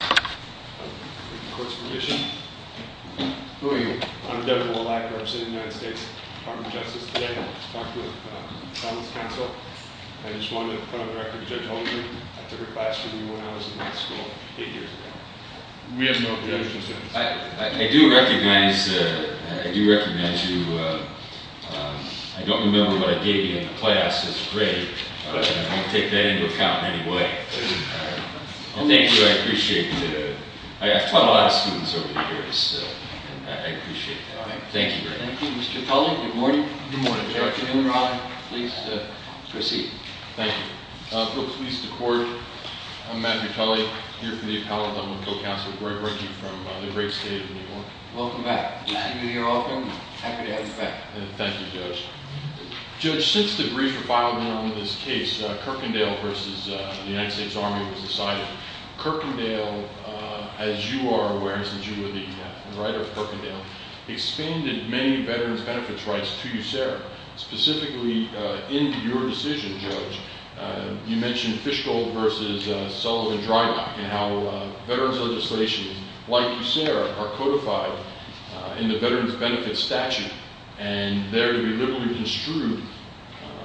I just want to put on the record Judge Holdren, I took her class when I was in high school 8 years ago. We have no objections to her. I do recognize you. I don't remember what I gave you in the class this grade. I won't take that into account in any way. Thank you, I appreciate it. I've taught a lot of students over the years. I appreciate that. Thank you very much. Thank you, Mr. Tully. Good morning. Good morning, Judge. Thank you. Folks, please decorate. I'm Matthew Tully, here for the Appellate Dental Council. Where I bring you from the great state of New York. Welcome back. We see you here often. Happy to have you back. Thank you, Judge. Judge, since the brief filed on this case, Kirkendale v. the United States Army was decided. Kirkendale, as you are aware, since you were the writer of Kirkendale, expanded many veterans' benefits rights to USERRA. Specifically, in your decision, Judge, you mentioned Fischl v. Sullivan-Drylock. And how veterans' legislations, like USERRA, are codified in the veterans' benefits statute. And they're to be liberally construed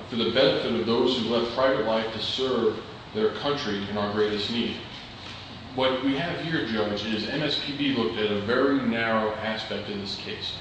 for the benefit of those who left private life to serve their country in our greatest need. What we have here, Judge, is MSPB looked at a very narrow aspect in this case.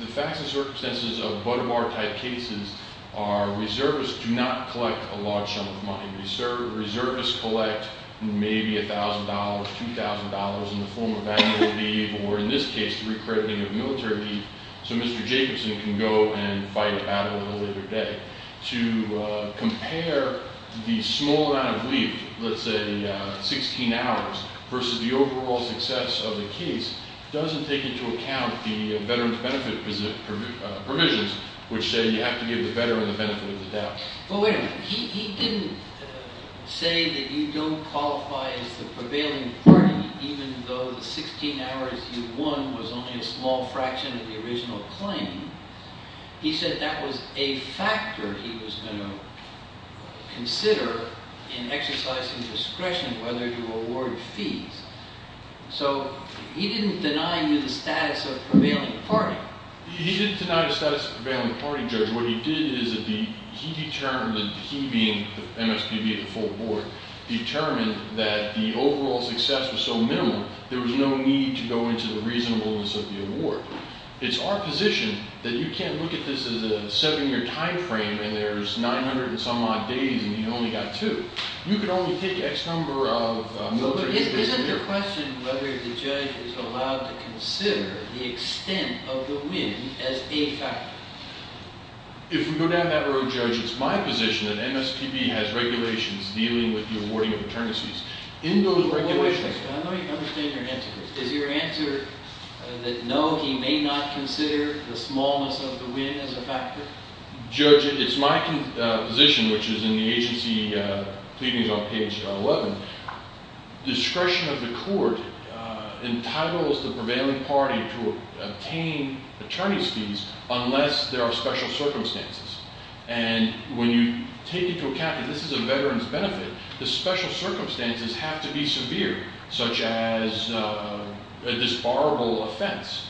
The facts and circumstances of Budweiser-type cases are reservists do not collect a large sum of money. Reservists collect maybe $1,000, $2,000 in the form of valuable leave, or in this case, the recrediting of military leave. So Mr. Jacobson can go and fight a battle in a later day. To compare the small amount of leave, let's say 16 hours, versus the overall success of the case, doesn't take into account the veterans' benefit provisions, which say you have to give the veteran the benefit of the doubt. But wait a minute. He didn't say that you don't qualify as the prevailing party, even though the 16 hours you won was only a small fraction of the original claim. He said that was a factor he was going to consider in exercising discretion whether to award fees. So he didn't deny you the status of prevailing party. He didn't deny the status of prevailing party, Judge. What he did is he determined, he being MSPB at the full board, determined that the overall success was so minimal there was no need to go into the reasonableness of the award. It's our position that you can't look at this as a seven-year time frame and there's 900-and-some-odd days and you only got two. You could only take X number of military days a year. Isn't the question whether the judge is allowed to consider the extent of the win as a factor? If we go down that road, Judge, it's my position that MSPB has regulations dealing with the awarding of maternities. In those regulations... Wait a second. I know you understand your answer. Is your answer that no, he may not consider the smallness of the win as a factor? Judge, it's my position, which is in the agency pleadings on page 11. Discretion of the court entitles the prevailing party to obtain attorney's fees unless there are special circumstances. And when you take into account that this is a veteran's benefit, the special circumstances have to be severe, such as a disbarable offense.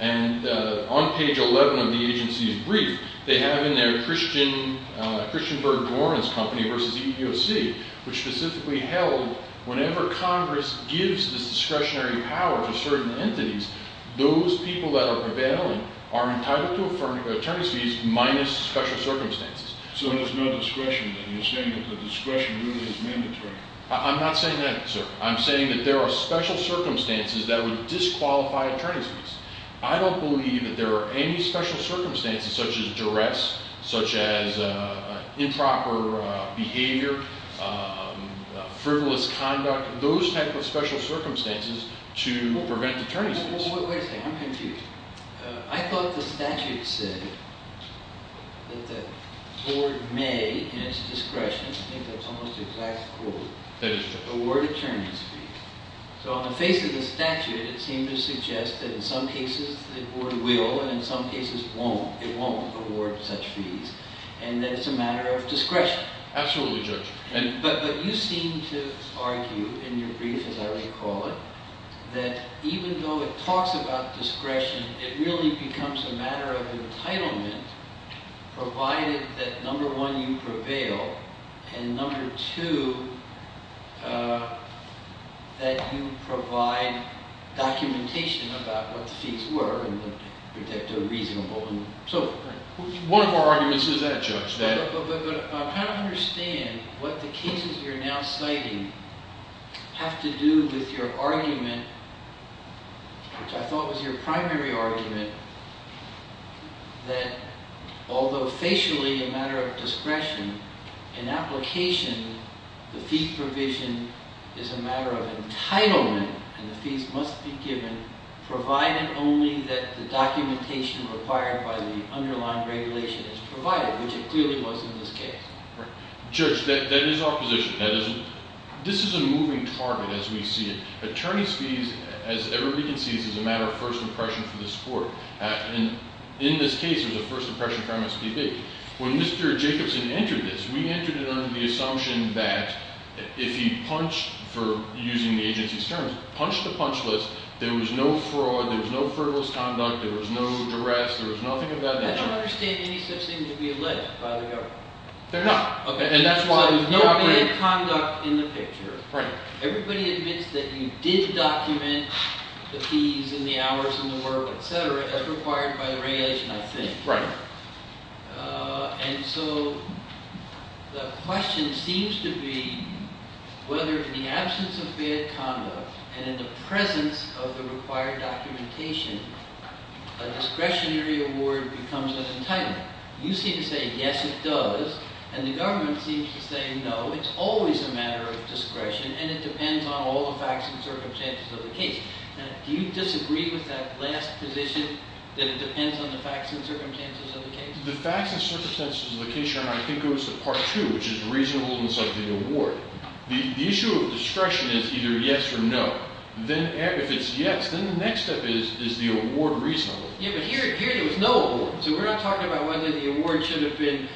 And on page 11 of the agency's brief, they have in their Christianberg-Gorman's company versus EEOC, which specifically held whenever Congress gives this discretionary power to certain entities, those people that are prevailing are entitled to attorney's fees minus special circumstances. So there's no discretion then? You're saying that the discretion really is mandatory? I'm not saying that, sir. I'm saying that there are special circumstances that would disqualify attorney's fees. I don't believe that there are any special circumstances, such as duress, such as improper behavior, frivolous conduct, those type of special circumstances to prevent attorney's fees. Wait a second. I'm confused. I thought the statute said that the board may, in its discretion, I think that's almost the exact quote, award attorney's fees. So on the face of the statute, it seemed to suggest that in some cases the board will, and in some cases won't. It won't award such fees, and that it's a matter of discretion. Absolutely, Judge. But you seem to argue in your brief, as I recall it, that even though it talks about discretion, it really becomes a matter of entitlement, provided that, number one, you prevail, and number two, that you provide documentation about what the fees were and that they're reasonable and so forth. But I'm trying to understand what the cases you're now citing have to do with your argument, which I thought was your primary argument, that although facially a matter of discretion, in application, the fee provision is a matter of entitlement, and the fees must be given, provided only that the documentation required by the underlying regulation is provided, which it clearly was in this case. Judge, that is our position. This is a moving target, as we see it. Attorney's fees, as everybody can see, is a matter of first impression for this court. And in this case, there's a first impression crime that's pretty big. When Mr. Jacobson entered this, we entered it under the assumption that if he punched, for using the agency's terms, punched the punch list, there was no fraud, there was no frivolous conduct, there was no duress, there was nothing of that nature. I don't understand any such thing to be alleged by the government. There's nothing. So there's no bad conduct in the picture. Everybody admits that you did document the fees and the hours and the work, et cetera, as required by the regulation, I think. Right. And so the question seems to be whether, in the absence of bad conduct and in the presence of the required documentation, a discretionary award becomes an entitlement. You seem to say, yes, it does, and the government seems to say, no, it's always a matter of discretion, and it depends on all the facts and circumstances of the case. Do you disagree with that last position, that it depends on the facts and circumstances of the case? The facts and circumstances of the case, Your Honor, I think goes to Part 2, which is reasonableness of the award. The issue of discretion is either yes or no. If it's yes, then the next step is the award reasonableness. Yeah, but here there was no award, so we're not talking about whether the award should have been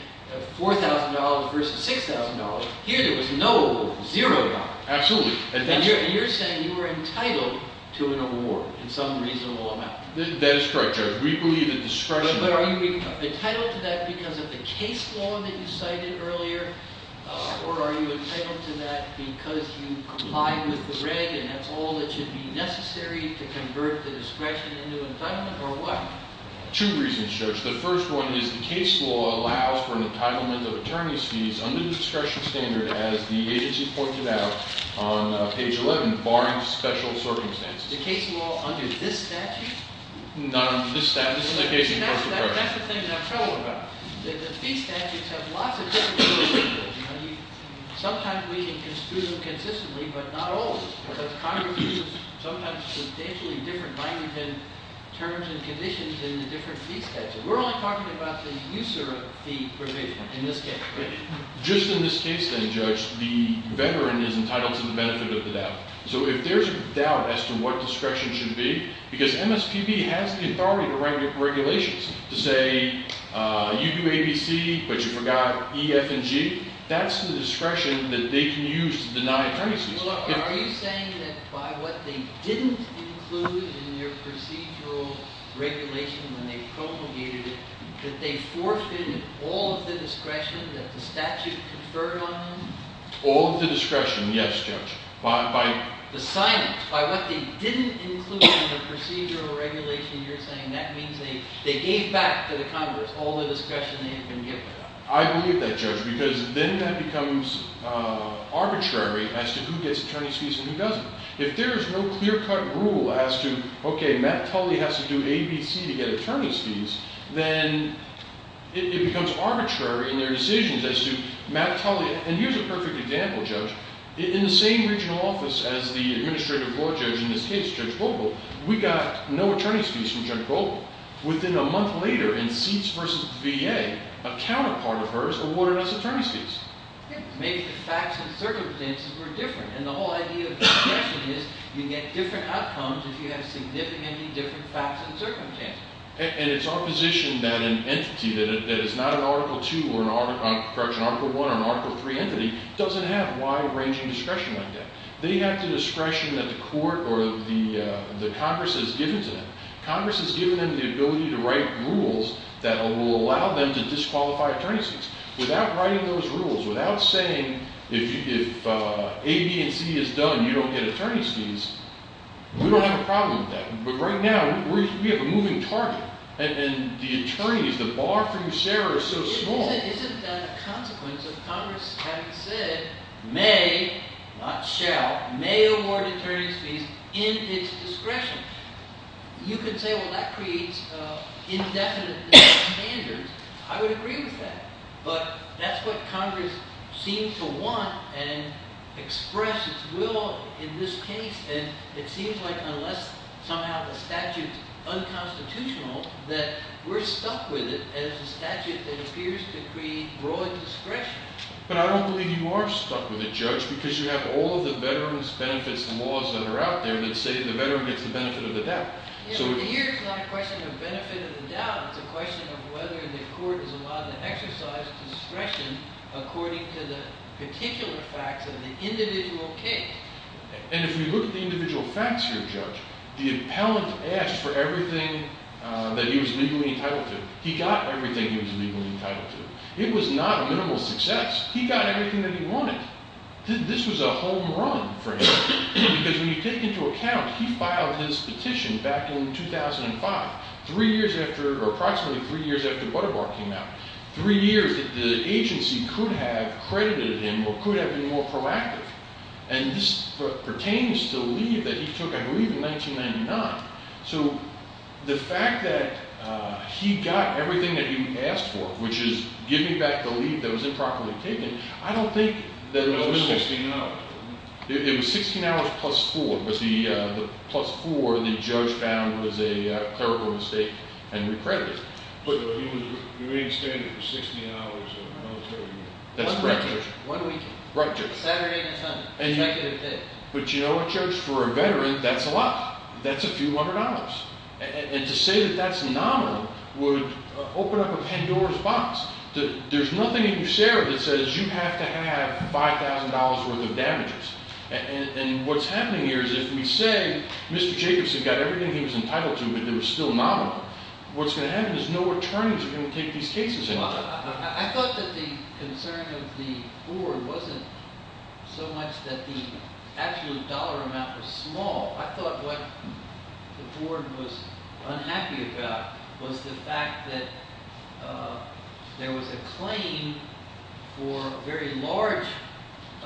$4,000 versus $6,000. Here there was no award, zero dollars. Absolutely. And you're saying you were entitled to an award in some reasonable amount. That is correct, Judge. We believe that discretion— But are you entitled to that because of the case law that you cited earlier, or are you entitled to that because you complied with the reg, and that's all that should be necessary to convert the discretion into entitlement, or what? Two reasons, Judge. The first one is the case law allows for an entitlement of attorney's fees under the discretion standard, as the agency pointed out on page 11, barring special circumstances. The case law under this statute? Not under this statute. That's the thing that I'm troubled about. The fee statutes have lots of different provisions. Sometimes we can construe them consistently, but not always, because Congress uses sometimes substantially different language and terms and conditions in the different fee statutes. We're only talking about the user of the provision in this case. Just in this case, then, Judge, the veteran is entitled to the benefit of the doubt. So if there's a doubt as to what discretion should be, because MSPB has the authority to write regulations to say, you do ABC, but you forgot E, F, and G, that's the discretion that they can use to deny attorney's fees. Are you saying that by what they didn't include in their procedural regulation when they promulgated it, that they forfeited all of the discretion that the statute conferred on them? All of the discretion, yes, Judge. The signage, by what they didn't include in the procedural regulation, you're saying that means they gave back to the Congress all the discretion they had been given. I believe that, Judge, because then that becomes arbitrary as to who gets attorney's fees and who doesn't. If there is no clear-cut rule as to, okay, Matt Tully has to do ABC to get attorney's fees, then it becomes arbitrary in their decisions as to Matt Tully. And here's a perfect example, Judge. In the same regional office as the administrative court judge in this case, Judge Vogel, we got no attorney's fees from Judge Vogel. Within a month later, in seats versus VA, a counterpart of hers awarded us attorney's fees. Maybe the facts and circumstances were different, and the whole idea of discretion is you get different outcomes if you have significantly different facts and circumstances. And it's our position that an entity that is not an Article 2 or an Article 1 or an Article 3 entity doesn't have wide-ranging discretion like that. They have the discretion that the court or the Congress has given to them. Congress has given them the ability to write rules that will allow them to disqualify attorney's fees. Without writing those rules, without saying if A, B, and C is done, you don't get attorney's fees, we don't have a problem with that. But right now, we have a moving target, and the attorneys, the bar from Sarah is so small. Isn't that a consequence of Congress having said, may, not shall, may award attorney's fees in its discretion? You could say, well, that creates indefinite standards. I would agree with that. But that's what Congress seems to want and express its will in this case. And it seems like unless somehow the statute is unconstitutional, that we're stuck with it as a statute that appears to create broad discretion. But I don't believe you are stuck with it, Judge, because you have all of the veterans' benefits and laws that are out there that say the veteran gets the benefit of the doubt. Here, it's not a question of benefit of the doubt. It's a question of whether the court is allowed to exercise discretion according to the particular facts of the individual case. And if we look at the individual facts here, Judge, the appellant asked for everything that he was legally entitled to. He got everything he was legally entitled to. It was not minimal success. He got everything that he wanted. This was a home run for him. Because when you take into account, he filed his petition back in 2005, approximately three years after Butterbar came out, three years that the agency could have credited him or could have been more proactive. And this pertains to the leave that he took, I believe, in 1999. So the fact that he got everything that he asked for, which is giving back the leave that was improperly taken, I don't think that it was minimal. It was 16 hours. It was 16 hours plus four. Plus four, the judge found was a clerical mistake and recredited. But he was remanded standing for 16 hours of military duty. That's correct, Judge. One week. Right, Judge. Saturday and Sunday. Executive day. But, you know what, Judge, for a veteran, that's a lot. That's a few hundred dollars. And to say that that's nominal would open up a Pandora's box. There's nothing in your share that says you have to have $5,000 worth of damages. And what's happening here is if we say Mr. Jacobson got everything he was entitled to but it was still nominal, what's going to happen is no attorneys are going to take these cases anymore. I thought that the concern of the board wasn't so much that the actual dollar amount was small. I thought what the board was unhappy about was the fact that there was a claim for a very large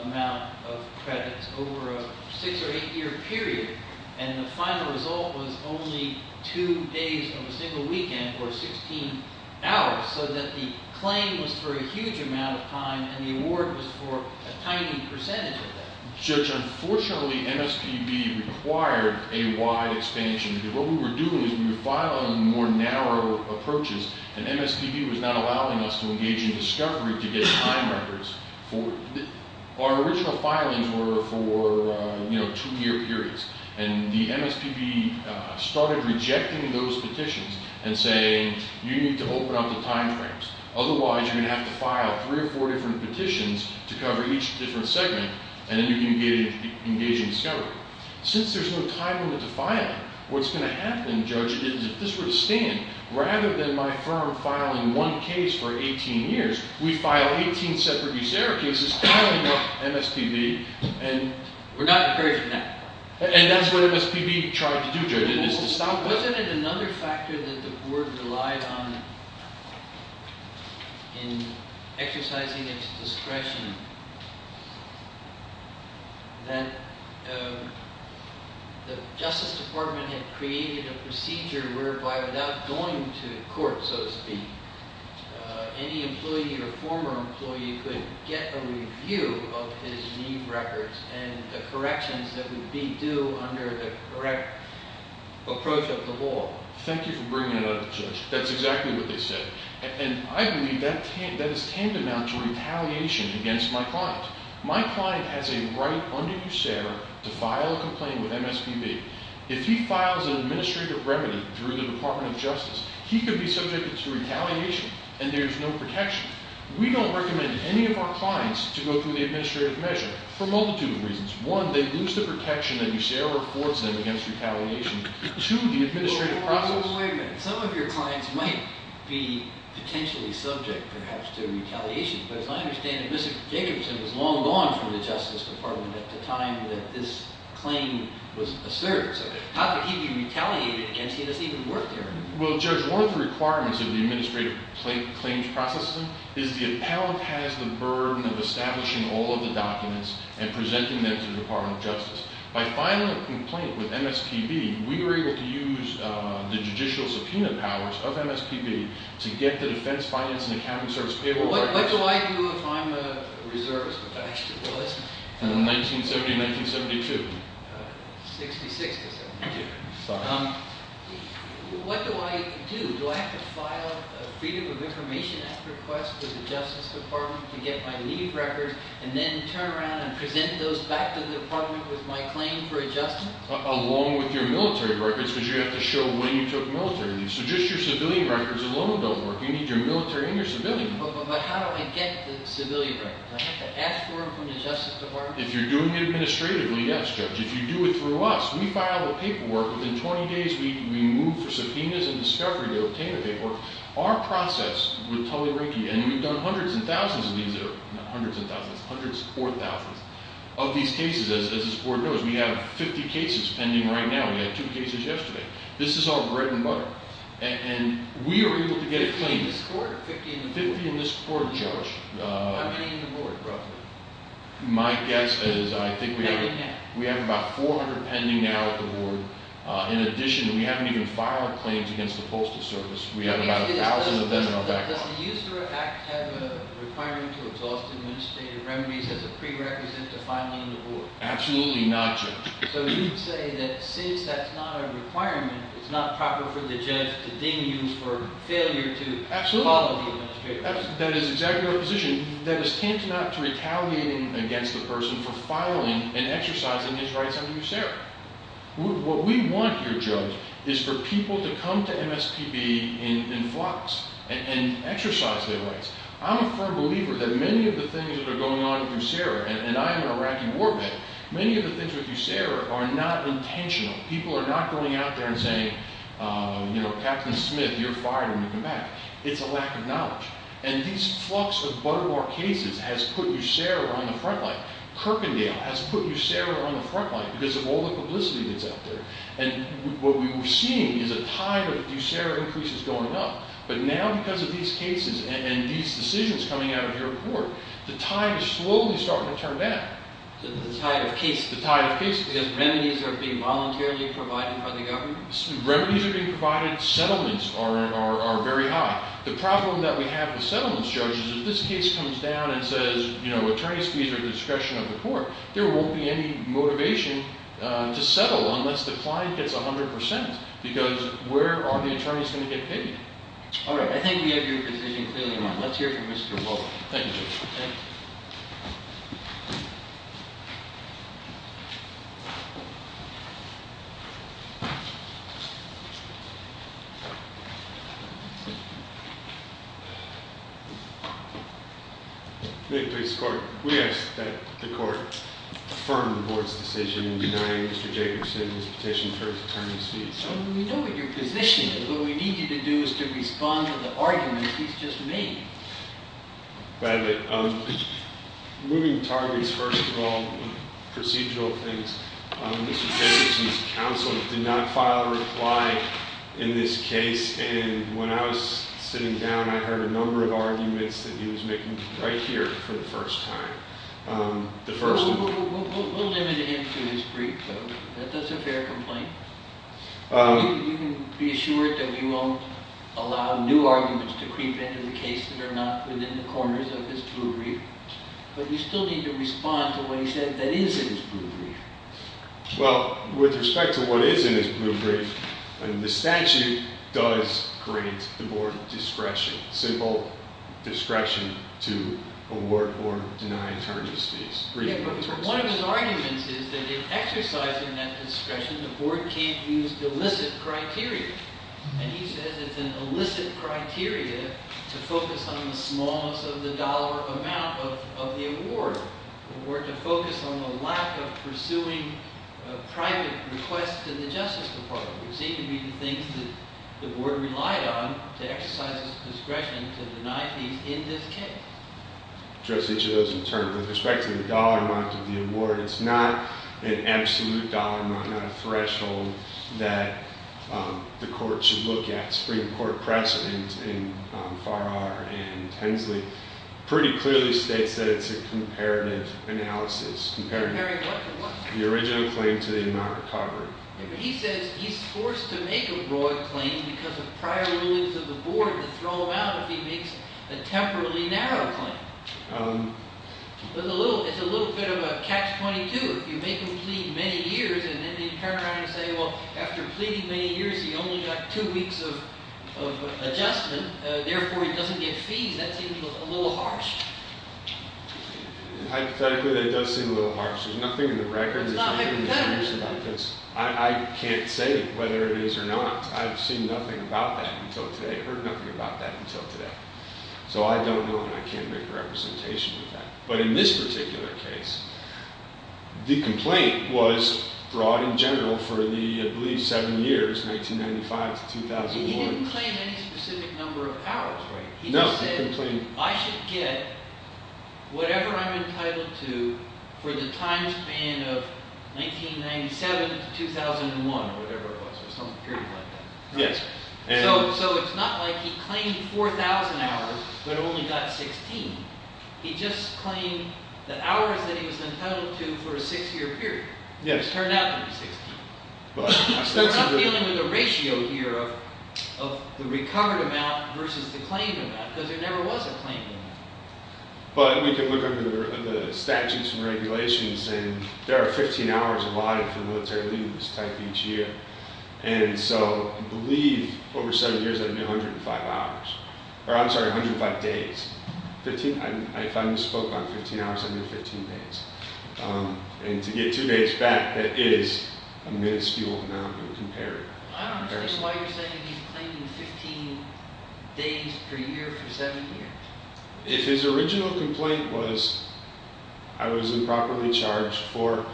amount of credits over a six- or eight-year period, and the final result was only two days of a single weekend or 16 hours so that the claim was for a huge amount of time and the award was for a tiny percentage of that. Judge, unfortunately, MSPB required a wide expansion. What we were doing is we were filing more narrow approaches, and MSPB was not allowing us to engage in discovery to get time records. Our original filings were for two-year periods, and the MSPB started rejecting those petitions and saying you need to open up the time frames. Otherwise, you're going to have to file three or four different petitions to cover each different segment, and then you can engage in discovery. Since there's no time limit to filing, what's going to happen, Judge, is if this were to stand, rather than my firm filing one case for 18 years, we file 18 separate cases, filing up MSPB, and that's what MSPB tried to do, Judge. Wasn't it another factor that the board relied on in exercising its discretion that the Justice Department had created a procedure whereby without going to court, so to speak, any employee or former employee could get a review of his name records and the corrections that would be due under the correct approach of the law? Thank you for bringing it up, Judge. That's exactly what they said, and I believe that is tantamount to retaliation against my client. My client has a right under USARE to file a complaint with MSPB. If he files an administrative remedy through the Department of Justice, he could be subjected to retaliation, and there's no protection. We don't recommend any of our clients to go through the administrative measure for a multitude of reasons. One, they lose the protection that USARE affords them against retaliation. Two, the administrative process... Wait a minute. Some of your clients might be potentially subject, perhaps, to retaliation, but as I understand it, Mr. Jacobson was long gone from the Justice Department at the time that this claim was asserted. So how could he be retaliated against? He doesn't even work there anymore. Well, Judge, one of the requirements of the administrative claims process is the appellant has the burden of establishing all of the documents and presenting them to the Department of Justice. By filing a complaint with MSPB, we were able to use the judicial subpoena powers of MSPB to get the defense, finance, and accounting service... What do I do if I'm a reservist? 1970 to 1972. 60-60. Thank you. What do I do? Do I have to file a Freedom of Information Act request to the Justice Department to get my leave records and then turn around and present those back to the Department with my claim for adjustment? Along with your military records, because you have to show when you took military leave. So just your civilian records alone don't work. You need your military and your civilian records. But how do I get the civilian records? Do I have to ask for them from the Justice Department? If you're doing it administratively, yes, Judge. If you do it through us, we file the paperwork. Within 20 days, we move for subpoenas and discovery to obtain the paperwork. Our process with Tully Rinkey, and we've done hundreds and thousands of these, not hundreds of thousands, hundreds of thousands, of these cases, as this Court knows. We have 50 cases pending right now. We had two cases yesterday. This is all bread and butter. And we are able to get a claim. 50 in this Court? 50 in this Court, Judge. How many in the Board, roughly? My guess is I think we have... we have about 400 pending now at the Board. In addition, we haven't even filed claims against the Postal Service. We have about 1,000 of them in our back pocket. Does the USERA Act have a requirement to exhaust administrative remedies as a prerequisite to filing the Board? Absolutely not, Judge. So you'd say that since that's not a requirement, it's not proper for the judge to then use for failure to follow the administration? Absolutely. That is exactly our position. That is tantamount to retaliating against the person for filing and exercising his rights under USERA. What we want here, Judge, is for people to come to MSPB in flux and exercise their rights. I'm a firm believer that many of the things that are going on with USERA, and I am an Iraqi war veteran, many of the things with USERA are not intentional. People are not going out there and saying, you know, It's a lack of knowledge. And this flux of butterball cases has put USERA on the front line. Kirkendale has put USERA on the front line because of all the publicity that's out there. And what we're seeing is a tide of USERA increases going up. But now because of these cases and these decisions coming out of your court, the tide is slowly starting to turn back. The tide of cases? The tide of cases. Because remedies are being voluntarily provided by the government? Remedies are being provided. Settlements are very high. The problem that we have with settlements, Judge, is if this case comes down and says, you know, attorney's fees are at the discretion of the court, there won't be any motivation to settle unless the client gets 100 percent. Because where are the attorneys going to get paid? All right. I think we have your position clearly in mind. Let's hear from Mr. Wolfe. Thank you, Judge. Thank you. May it please the court. We ask that the court affirm the board's decision in denying Mr. Jacobson his petition for his attorney's fees. We know what your position is. What we need you to do is to respond to the arguments he's just made. By the way, moving targets, first of all, procedural things, Mr. Jacobson's counsel did not file a reply in this case. And when I was sitting down, I heard a number of arguments that he was making right here for the first time. We'll limit it into his brief, though. That's a fair complaint. You can be assured that we won't allow new arguments to creep into the case that are not within the corners of his blue brief. But you still need to respond to what he said that is in his blue brief. Well, with respect to what is in his blue brief, the statute does grant the board discretion, simple discretion to award or deny attorney's fees. Yeah, but one of his arguments is that in exercising that discretion, the board can't use illicit criteria. And he says it's an illicit criteria to focus on the smallness of the dollar amount of the award, or to focus on the lack of pursuing a private request to the justice department. It seems to be the things that the board relied on to exercise its discretion to deny fees in this case. I'll address each of those in turn. With respect to the dollar amount of the award, it's not an absolute dollar amount, not a threshold that the court should look at. The Supreme Court precedent in Farrar and Hensley pretty clearly states that it's a comparative analysis. Comparative what? The original claim to the amount recovered. He says he's forced to make a broad claim because of prior rulings of the board to throw him out if he makes a temporarily narrow claim. It's a little bit of a catch-22. If you make him plead many years, and then they turn around and say, well, after pleading many years, he only got two weeks of adjustment, therefore he doesn't get fees. That seems a little harsh. Hypothetically, that does seem a little harsh. There's nothing in the records. It's not hypothetical. I can't say whether it is or not. I've seen nothing about that until today, heard nothing about that until today. So I don't know, and I can't make a representation of that. But in this particular case, the complaint was broad and general for the, I believe, seven years, 1995 to 2001. He didn't claim any specific number of hours, right? No, the complaint... He just said, I should get whatever I'm entitled to for the time span of 1997 to 2001, whatever it was, or some period like that. Yes. So it's not like he claimed 4,000 hours, but only got 16. He just claimed the hours that he was entitled to for a six-year period. Yes. Turned out to be 16. We're not dealing with a ratio here of the recovered amount versus the claimed amount, because there never was a claimed amount. But we can look under the statutes and regulations, and there are 15 hours allotted for military leave, this type, each year. And so, I believe, over seven years, that'd be 105 hours. Or, I'm sorry, 105 days. If I misspoke on 15 hours, that'd be 15 days. And to get two days back, that is a minuscule amount when compared. I don't understand why you're saying he's claiming 15 days per year for seven years. If his original complaint was, I was improperly charged for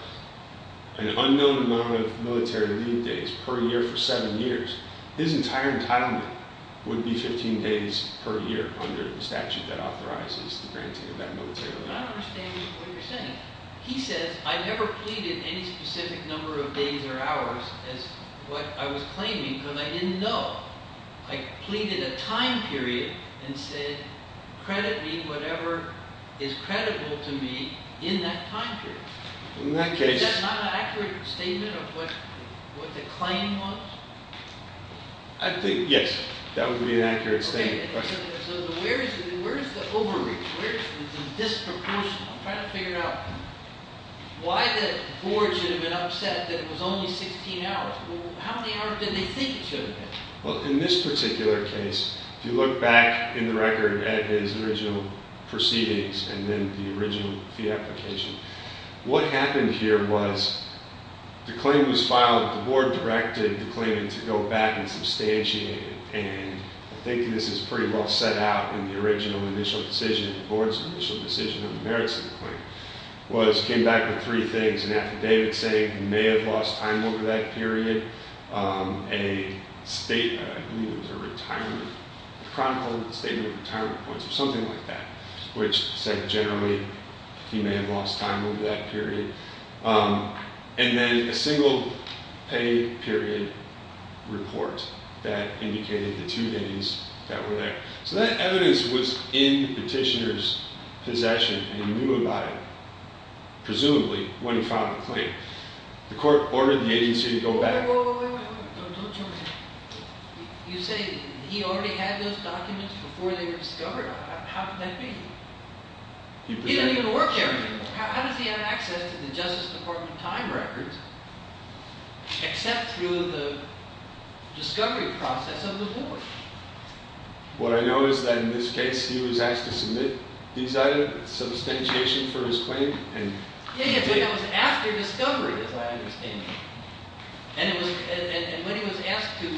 an unknown amount of military leave days per year for seven years, his entire entitlement would be 15 days per year under the statute that authorizes the granting of that military leave. I don't understand what you're saying. He says, I never pleaded any specific number of days or hours as what I was claiming, because I didn't know. I pleaded a time period and said, credit me whatever is credible to me in that time period. Is that not an accurate statement of what the claim was? I think, yes, that would be an accurate statement. Okay, so where is the overreach? Where is the disproportion? I'm trying to figure it out. Why the board should have been upset that it was only 16 hours? How many hours did they think it should have been? Well, in this particular case, if you look back in the record at his original proceedings and then the original fee application, what happened here was the claim was filed, the board directed the claimant to go back and substantiate it. And I think this is pretty well set out in the original initial decision, the board's initial decision on the merits of the claim, was came back with three things, an affidavit saying he may have lost time over that period, a statement, I believe it was a retirement, a chronicle statement of retirement points or something like that, which said generally he may have lost time over that period, and then a single pay period report that indicated the two days that were there. So that evidence was in the petitioner's possession and he knew about it, presumably, when he filed the claim. The court ordered the agency to go back... Wait, wait, wait, don't jump in. You say he already had those documents before they were discovered. How could that be? He didn't even work there. How does he have access to the Justice Department time records except through the discovery process of the board? What I know is that in this case he was asked to submit these items, substantiation for his claim, and... It was after discovery, as I understand it. And when he was asked to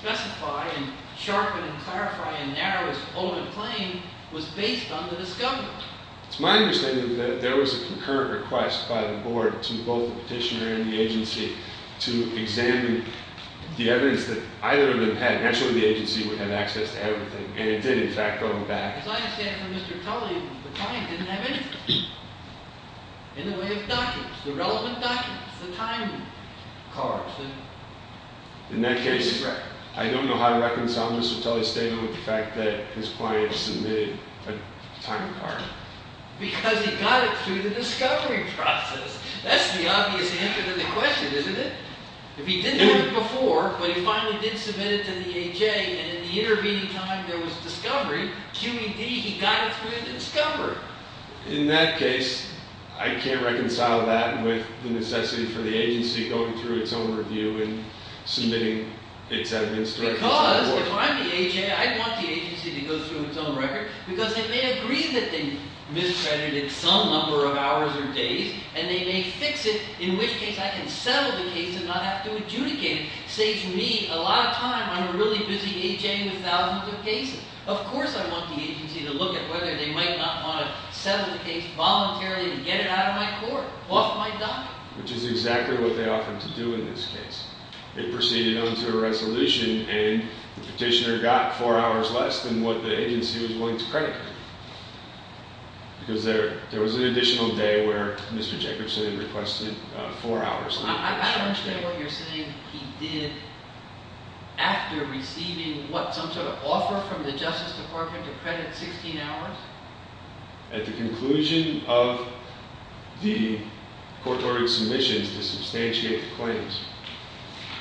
specify and sharpen and clarify and narrow his ultimate claim, it was based on the discovery. It's my understanding that there was a concurrent request by the board to both the petitioner and the agency to examine the evidence that either of them had. Naturally, the agency would have access to everything, and it did, in fact, go back... As I understand from Mr. Tully, the client didn't have anything. In the way of documents, the relevant documents, the time cards, the... In that case, I don't know how to reconcile Mr. Tully's statement with the fact that his client submitted a time card. Because he got it through the discovery process. That's the obvious answer to the question, isn't it? If he didn't have it before, but he finally did submit it to the A.J., and in the intervening time there was discovery, QED, he got it through the discovery. In that case, I can't reconcile that with the necessity for the agency going through its own review and submitting its evidence directly to the board. Because if I'm the A.J., I'd want the agency to go through its own record, because they may agree that they miscredited some number of hours or days, and they may fix it, in which case I can settle the case and not have to adjudicate it. Saves me a lot of time. I'm a really busy A.J. with thousands of cases. Of course I want the agency to look at whether they might not want to settle the case voluntarily and get it out of my court, off my docket. Which is exactly what they offered to do in this case. They proceeded on to a resolution, and the petitioner got 4 hours less than what the agency was willing to credit him with. Because there was an additional day where Mr. Jefferson had requested 4 hours. I don't understand what you're saying. He did, after receiving, what, an offer from the Justice Department to credit 16 hours? At the conclusion of the court-ordered submissions to substantiate the claims.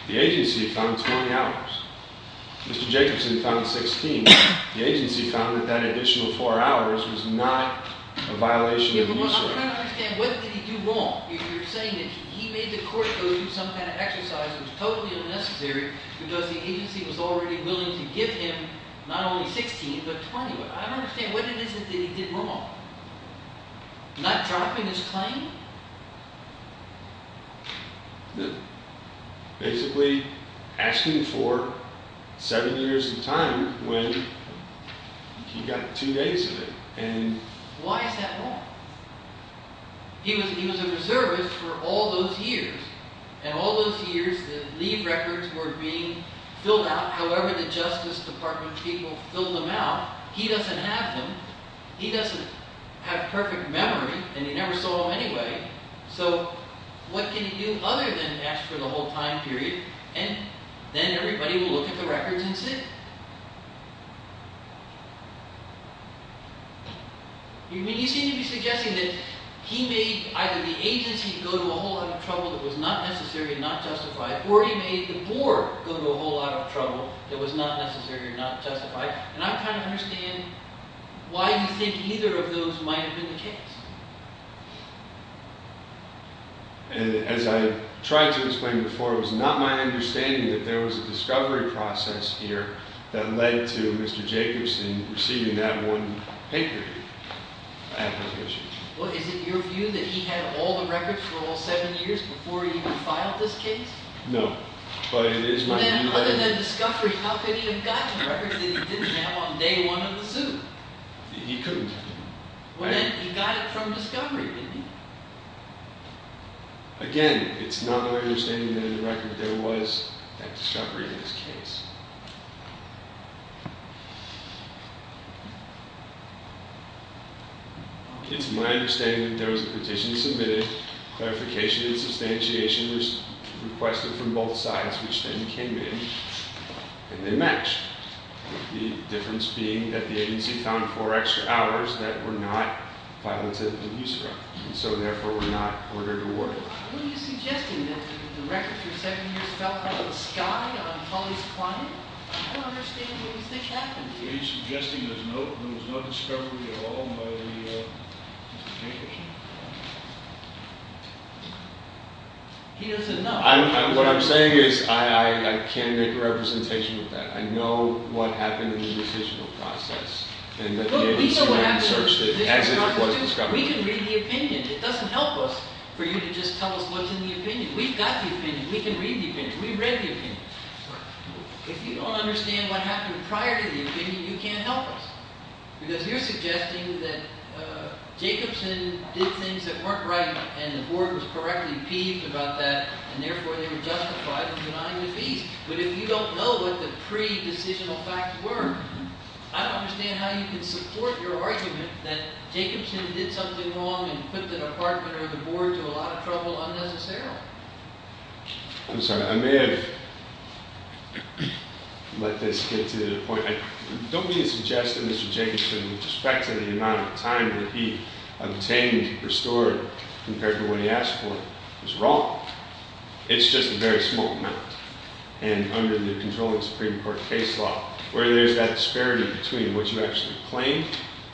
The agency found 20 hours. Mr. Jefferson found 16. The agency found that that additional 4 hours was not a violation of the use rate. I'm trying to understand, what did he do wrong? You're saying that he made the court go through some kind of exercise that was totally unnecessary because the agency was already willing to give him not only 16, but 20. I don't understand, what is it that he did wrong? Not dropping his claim? No. Basically, asking for 7 years in time when he got 2 days of it. Why is that wrong? He was a reservist for all those years. And all those years, the leave records were being filled out however the Justice Department people filled them out. He doesn't have them. He doesn't have perfect memory, and he never saw them anyway. So, what can he do other than ask for the whole time period? And then everybody will look at the records and see. You seem to be suggesting that he made either the agency go to a whole lot of trouble that was not necessary and not justified, or he made the board go to a whole lot of trouble that was not necessary and not justified. And I'm trying to understand why you think either of those might have been the case. As I tried to explain before, it was not my understanding that there was a discovery process here that led to Mr. Jacobson receiving that one paper application. Is it your view that he had all the records for all 7 years before he even filed this case? No, but it is my view that... Then, other than discovery, how could he have gotten records that he didn't have on day one of the suit? He couldn't have. He got it from discovery, didn't he? Again, it's not my understanding that in the record there was that discovery in this case. It's my understanding that there was a petition submitted, clarification and substantiation were requested from both sides, which then came in, and then matched. The difference being that the agency found 4 extra hours that were not violated in use of records, and so, therefore, were not ordered to award. Are you suggesting that the records for 7 years fell out of the sky on Pauley's quantity? No. I don't understand what you think happened here. Are you suggesting there was no discovery at all by Mr. Jacobson? He doesn't know. What I'm saying is I can't make a representation of that. I know what happened in the decisional process, and the agency went and searched it as it was discovered. We can read the opinion. It doesn't help us for you to just tell us what's in the opinion. We've got the opinion. We can read the opinion. If you don't understand what happened prior to the opinion, you can't help us, because you're suggesting that Jacobson did things that weren't right, and the board was correctly peeved about that, and, therefore, they were justified in denying the fees. But if you don't know what the pre-decisional facts were, I don't understand how you can support your argument that Jacobson did something wrong and put the department or the board to a lot of trouble unnecessarily. I'm sorry. I may have let this get to the point. I don't mean to suggest that Mr. Jacobson, with respect to the amount of time that he obtained, restored, compared to what he asked for, was wrong. It's just a very small amount. And under the controlling Supreme Court case law, where there's that disparity between what you actually claim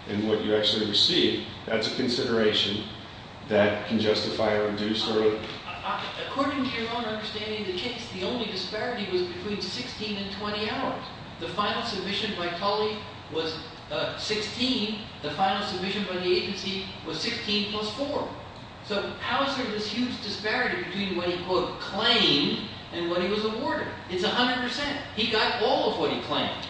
and what you actually receive, that's a consideration that can justify According to your own understanding of the case, the only disparity was between 16 and 20 hours. The final submission by Tully was 16. The final submission by the agency was 16 plus 4. So how is there this huge disparity between what he, quote, claimed and what he was awarded? It's 100%. He got all of what he claimed.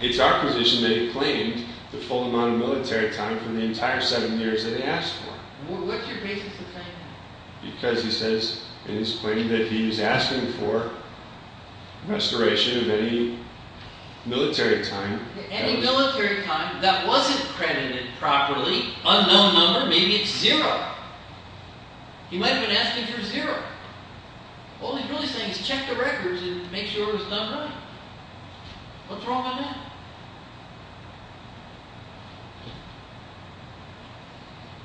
It's our position that he claimed the full amount of military time from the entire seven years that he asked for. What's your basis in saying that? Because he says in his claim that he's asking for restoration of any military time. Any military time that wasn't credited properly, unknown number, maybe it's zero. He might have been asking for zero. All he's really saying is check the records and make sure it was done right. What's wrong with that?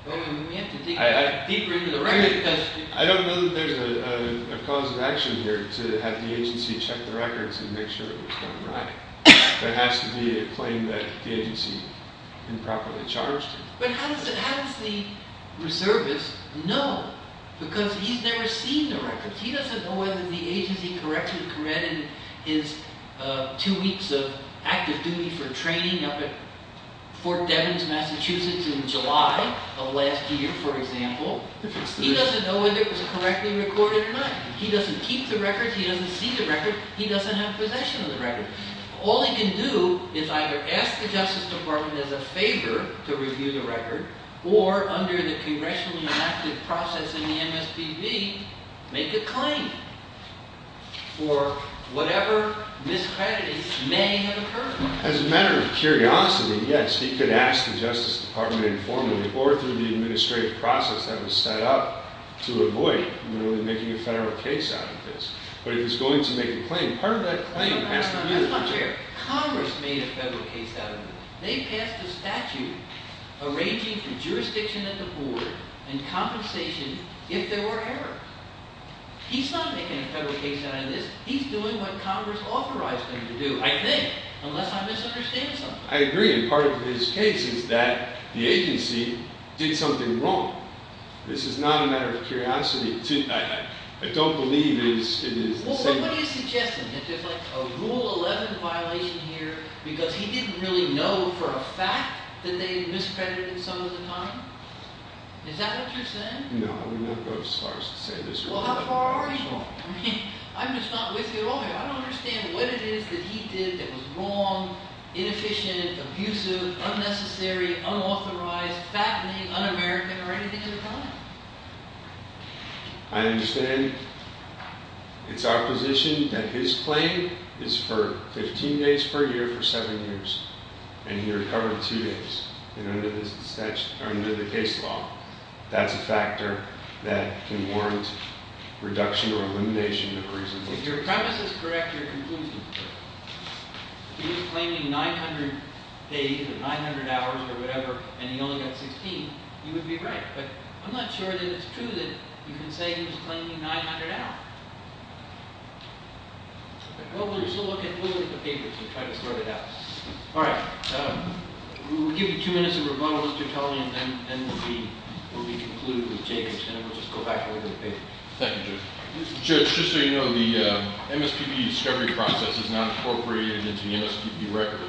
Well, we have to dig deeper into the record question. I don't know that there's a cause of action here to have the agency check the records and make sure it was done right. There has to be a claim that the agency improperly charged him. But how does the reservist know? Because he's never seen the records. He doesn't know whether the agency corrected his two weeks of active duty for training up at Fort Devens, Massachusetts in July of last year, for example. He doesn't know whether it was correctly recorded or not. He doesn't keep the records. He doesn't see the records. He doesn't have possession of the records. All he can do is either ask the Justice Department as a favor to review the record, or under the congressionally enacted process in the MSPB, make a claim. Or whatever miscredits may have occurred. As a matter of curiosity, yes, he could ask the Justice Department informally or through the administrative process that was set up to avoid making a federal case out of this. But if he's going to make a claim, part of that claim passed on to you. That's not fair. Congress made a federal case out of it. They passed a statute arranging for jurisdiction at the board and compensation if there were errors. He's not making a federal case out of this. He's doing what Congress authorized him to do, I think, unless I misunderstand something. I agree. And part of his case is that the agency did something wrong. This is not a matter of curiosity. I don't believe it is the same. Well, what are you suggesting? That there's a Rule 11 violation here because he didn't really know for a fact that they miscredited him some of the time? Is that what you're saying? No. Well, how far are you? I'm just not with you at all here. I don't understand what it is that he did that was wrong, inefficient, abusive, unnecessary, unauthorized, fattening, un-American, or anything of the kind. I understand. It's our position that his claim is for 15 days per year for seven years. And he recovered two days under the case law. That's a factor that can warrant reduction or elimination of reasonable time. If your premise is correct, your conclusion is correct. If he was claiming 900 days, or 900 hours, or whatever, and he only got 16, he would be right. But I'm not sure that it's true that you can say he was claiming 900 hours. Well, we'll just look at the papers and try to sort it out. All right. We'll give you two minutes of rebuttals to tell me, and then we'll be concluding with Jacob. And then we'll just go back over the paper. Thank you, Judge. Judge, just so you know, the MSPP discovery process is not incorporated into the MSPP record.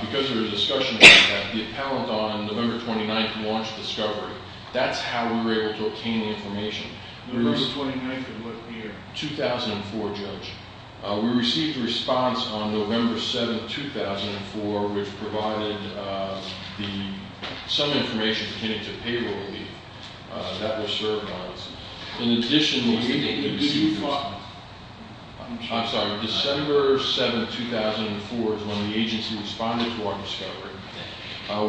Because there was a discussion about that, the appellant on November 29th launched discovery. That's how we were able to obtain the information. November 29th of what year? 2004, Judge. We received a response on November 7th, 2004, which provided some information pertaining to payroll leave that was served on us. In addition, we received a response. I'm sorry. December 7th, 2004 is when the agency responded to our discovery.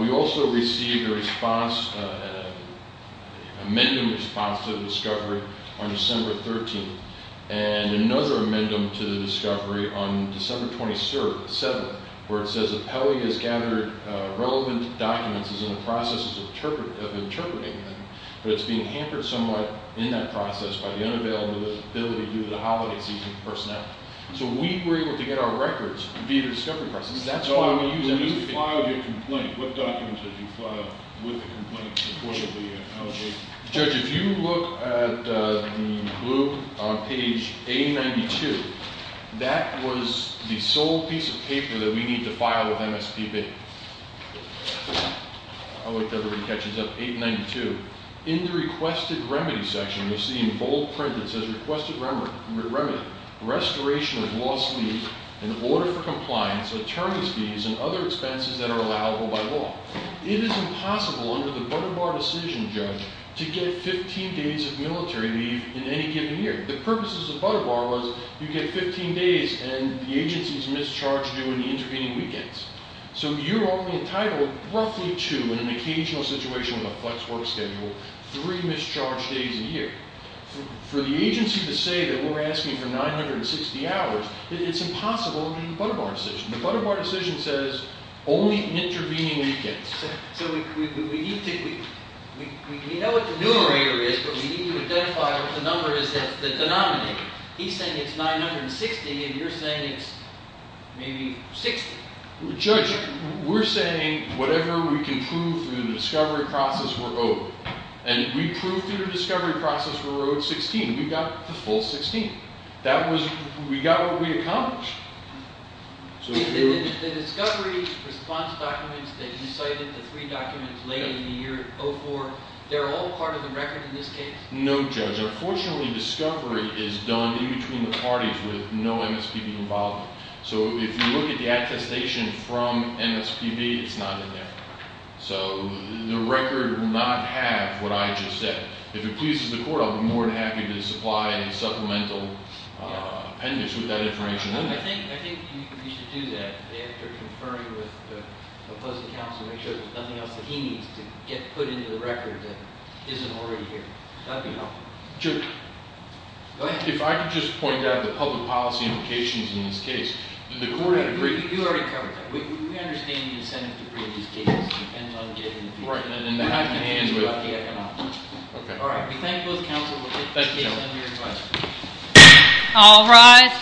We also received a response, an amendment response to the discovery on December 13th, and another amendment to the discovery on December 27th, where it says the appellee has gathered relevant documents and is in the process of interpreting them, but it's being hampered somewhat in that process by the unavailability due to the holiday season personnel. So we were able to get our records via the discovery process. That's why we use MSPP. When you filed your complaint, what documents did you file with the complaint in support of the allegation? Judge, if you look at the blue on page 892, that was the sole piece of paper that we need to file with MSPP. I hope everybody catches up. 892. In the requested remedy section, we see in bold print that says requested remedy, restoration of lost leave, an order for compliance, attorney's fees, and other expenses that are allowable by law. It is impossible under the Butter Bar decision, Judge, to get 15 days of military leave in any given year. The purpose of the Butter Bar was you get 15 days and the agency is mischarged during the intervening weekends. So you're only entitled roughly to, in an occasional situation with a flex work schedule, three mischarged days a year. For the agency to say that we're asking for 960 hours, it's impossible under the Butter Bar decision. The Butter Bar decision says only intervening weekends. So we know what the numerator is, but we need to identify what the number is that's the denominator. He's saying it's 960 and you're saying it's maybe 60. Judge, we're saying whatever we can prove through the discovery process, we're owed. And we proved through the discovery process we were owed 16. We got the full 16. That was, we got what we accomplished. The discovery response documents that you cited, the three documents late in the year, 04, they're all part of the record in this case? No, Judge. Unfortunately, discovery is done in between the parties with no MSPB involvement. So if you look at the attestation from MSPB, it's not in there. So the record will not have what I just said. If it pleases the court, I'll be more than happy to supply any supplemental appendix with that information in there. I think you should do that after conferring with the opposing counsel to make sure that there's nothing else that he needs to get put into the record that isn't already here. That would be helpful. Sure. Go ahead. If I could just point out the public policy implications in this case. The court had a great deal. You already covered that. We understand the incentive to bring these cases depends on getting the people. Right, and then I can answer it. All right. We thank both counsel. We'll take the case under your discretion. All rise.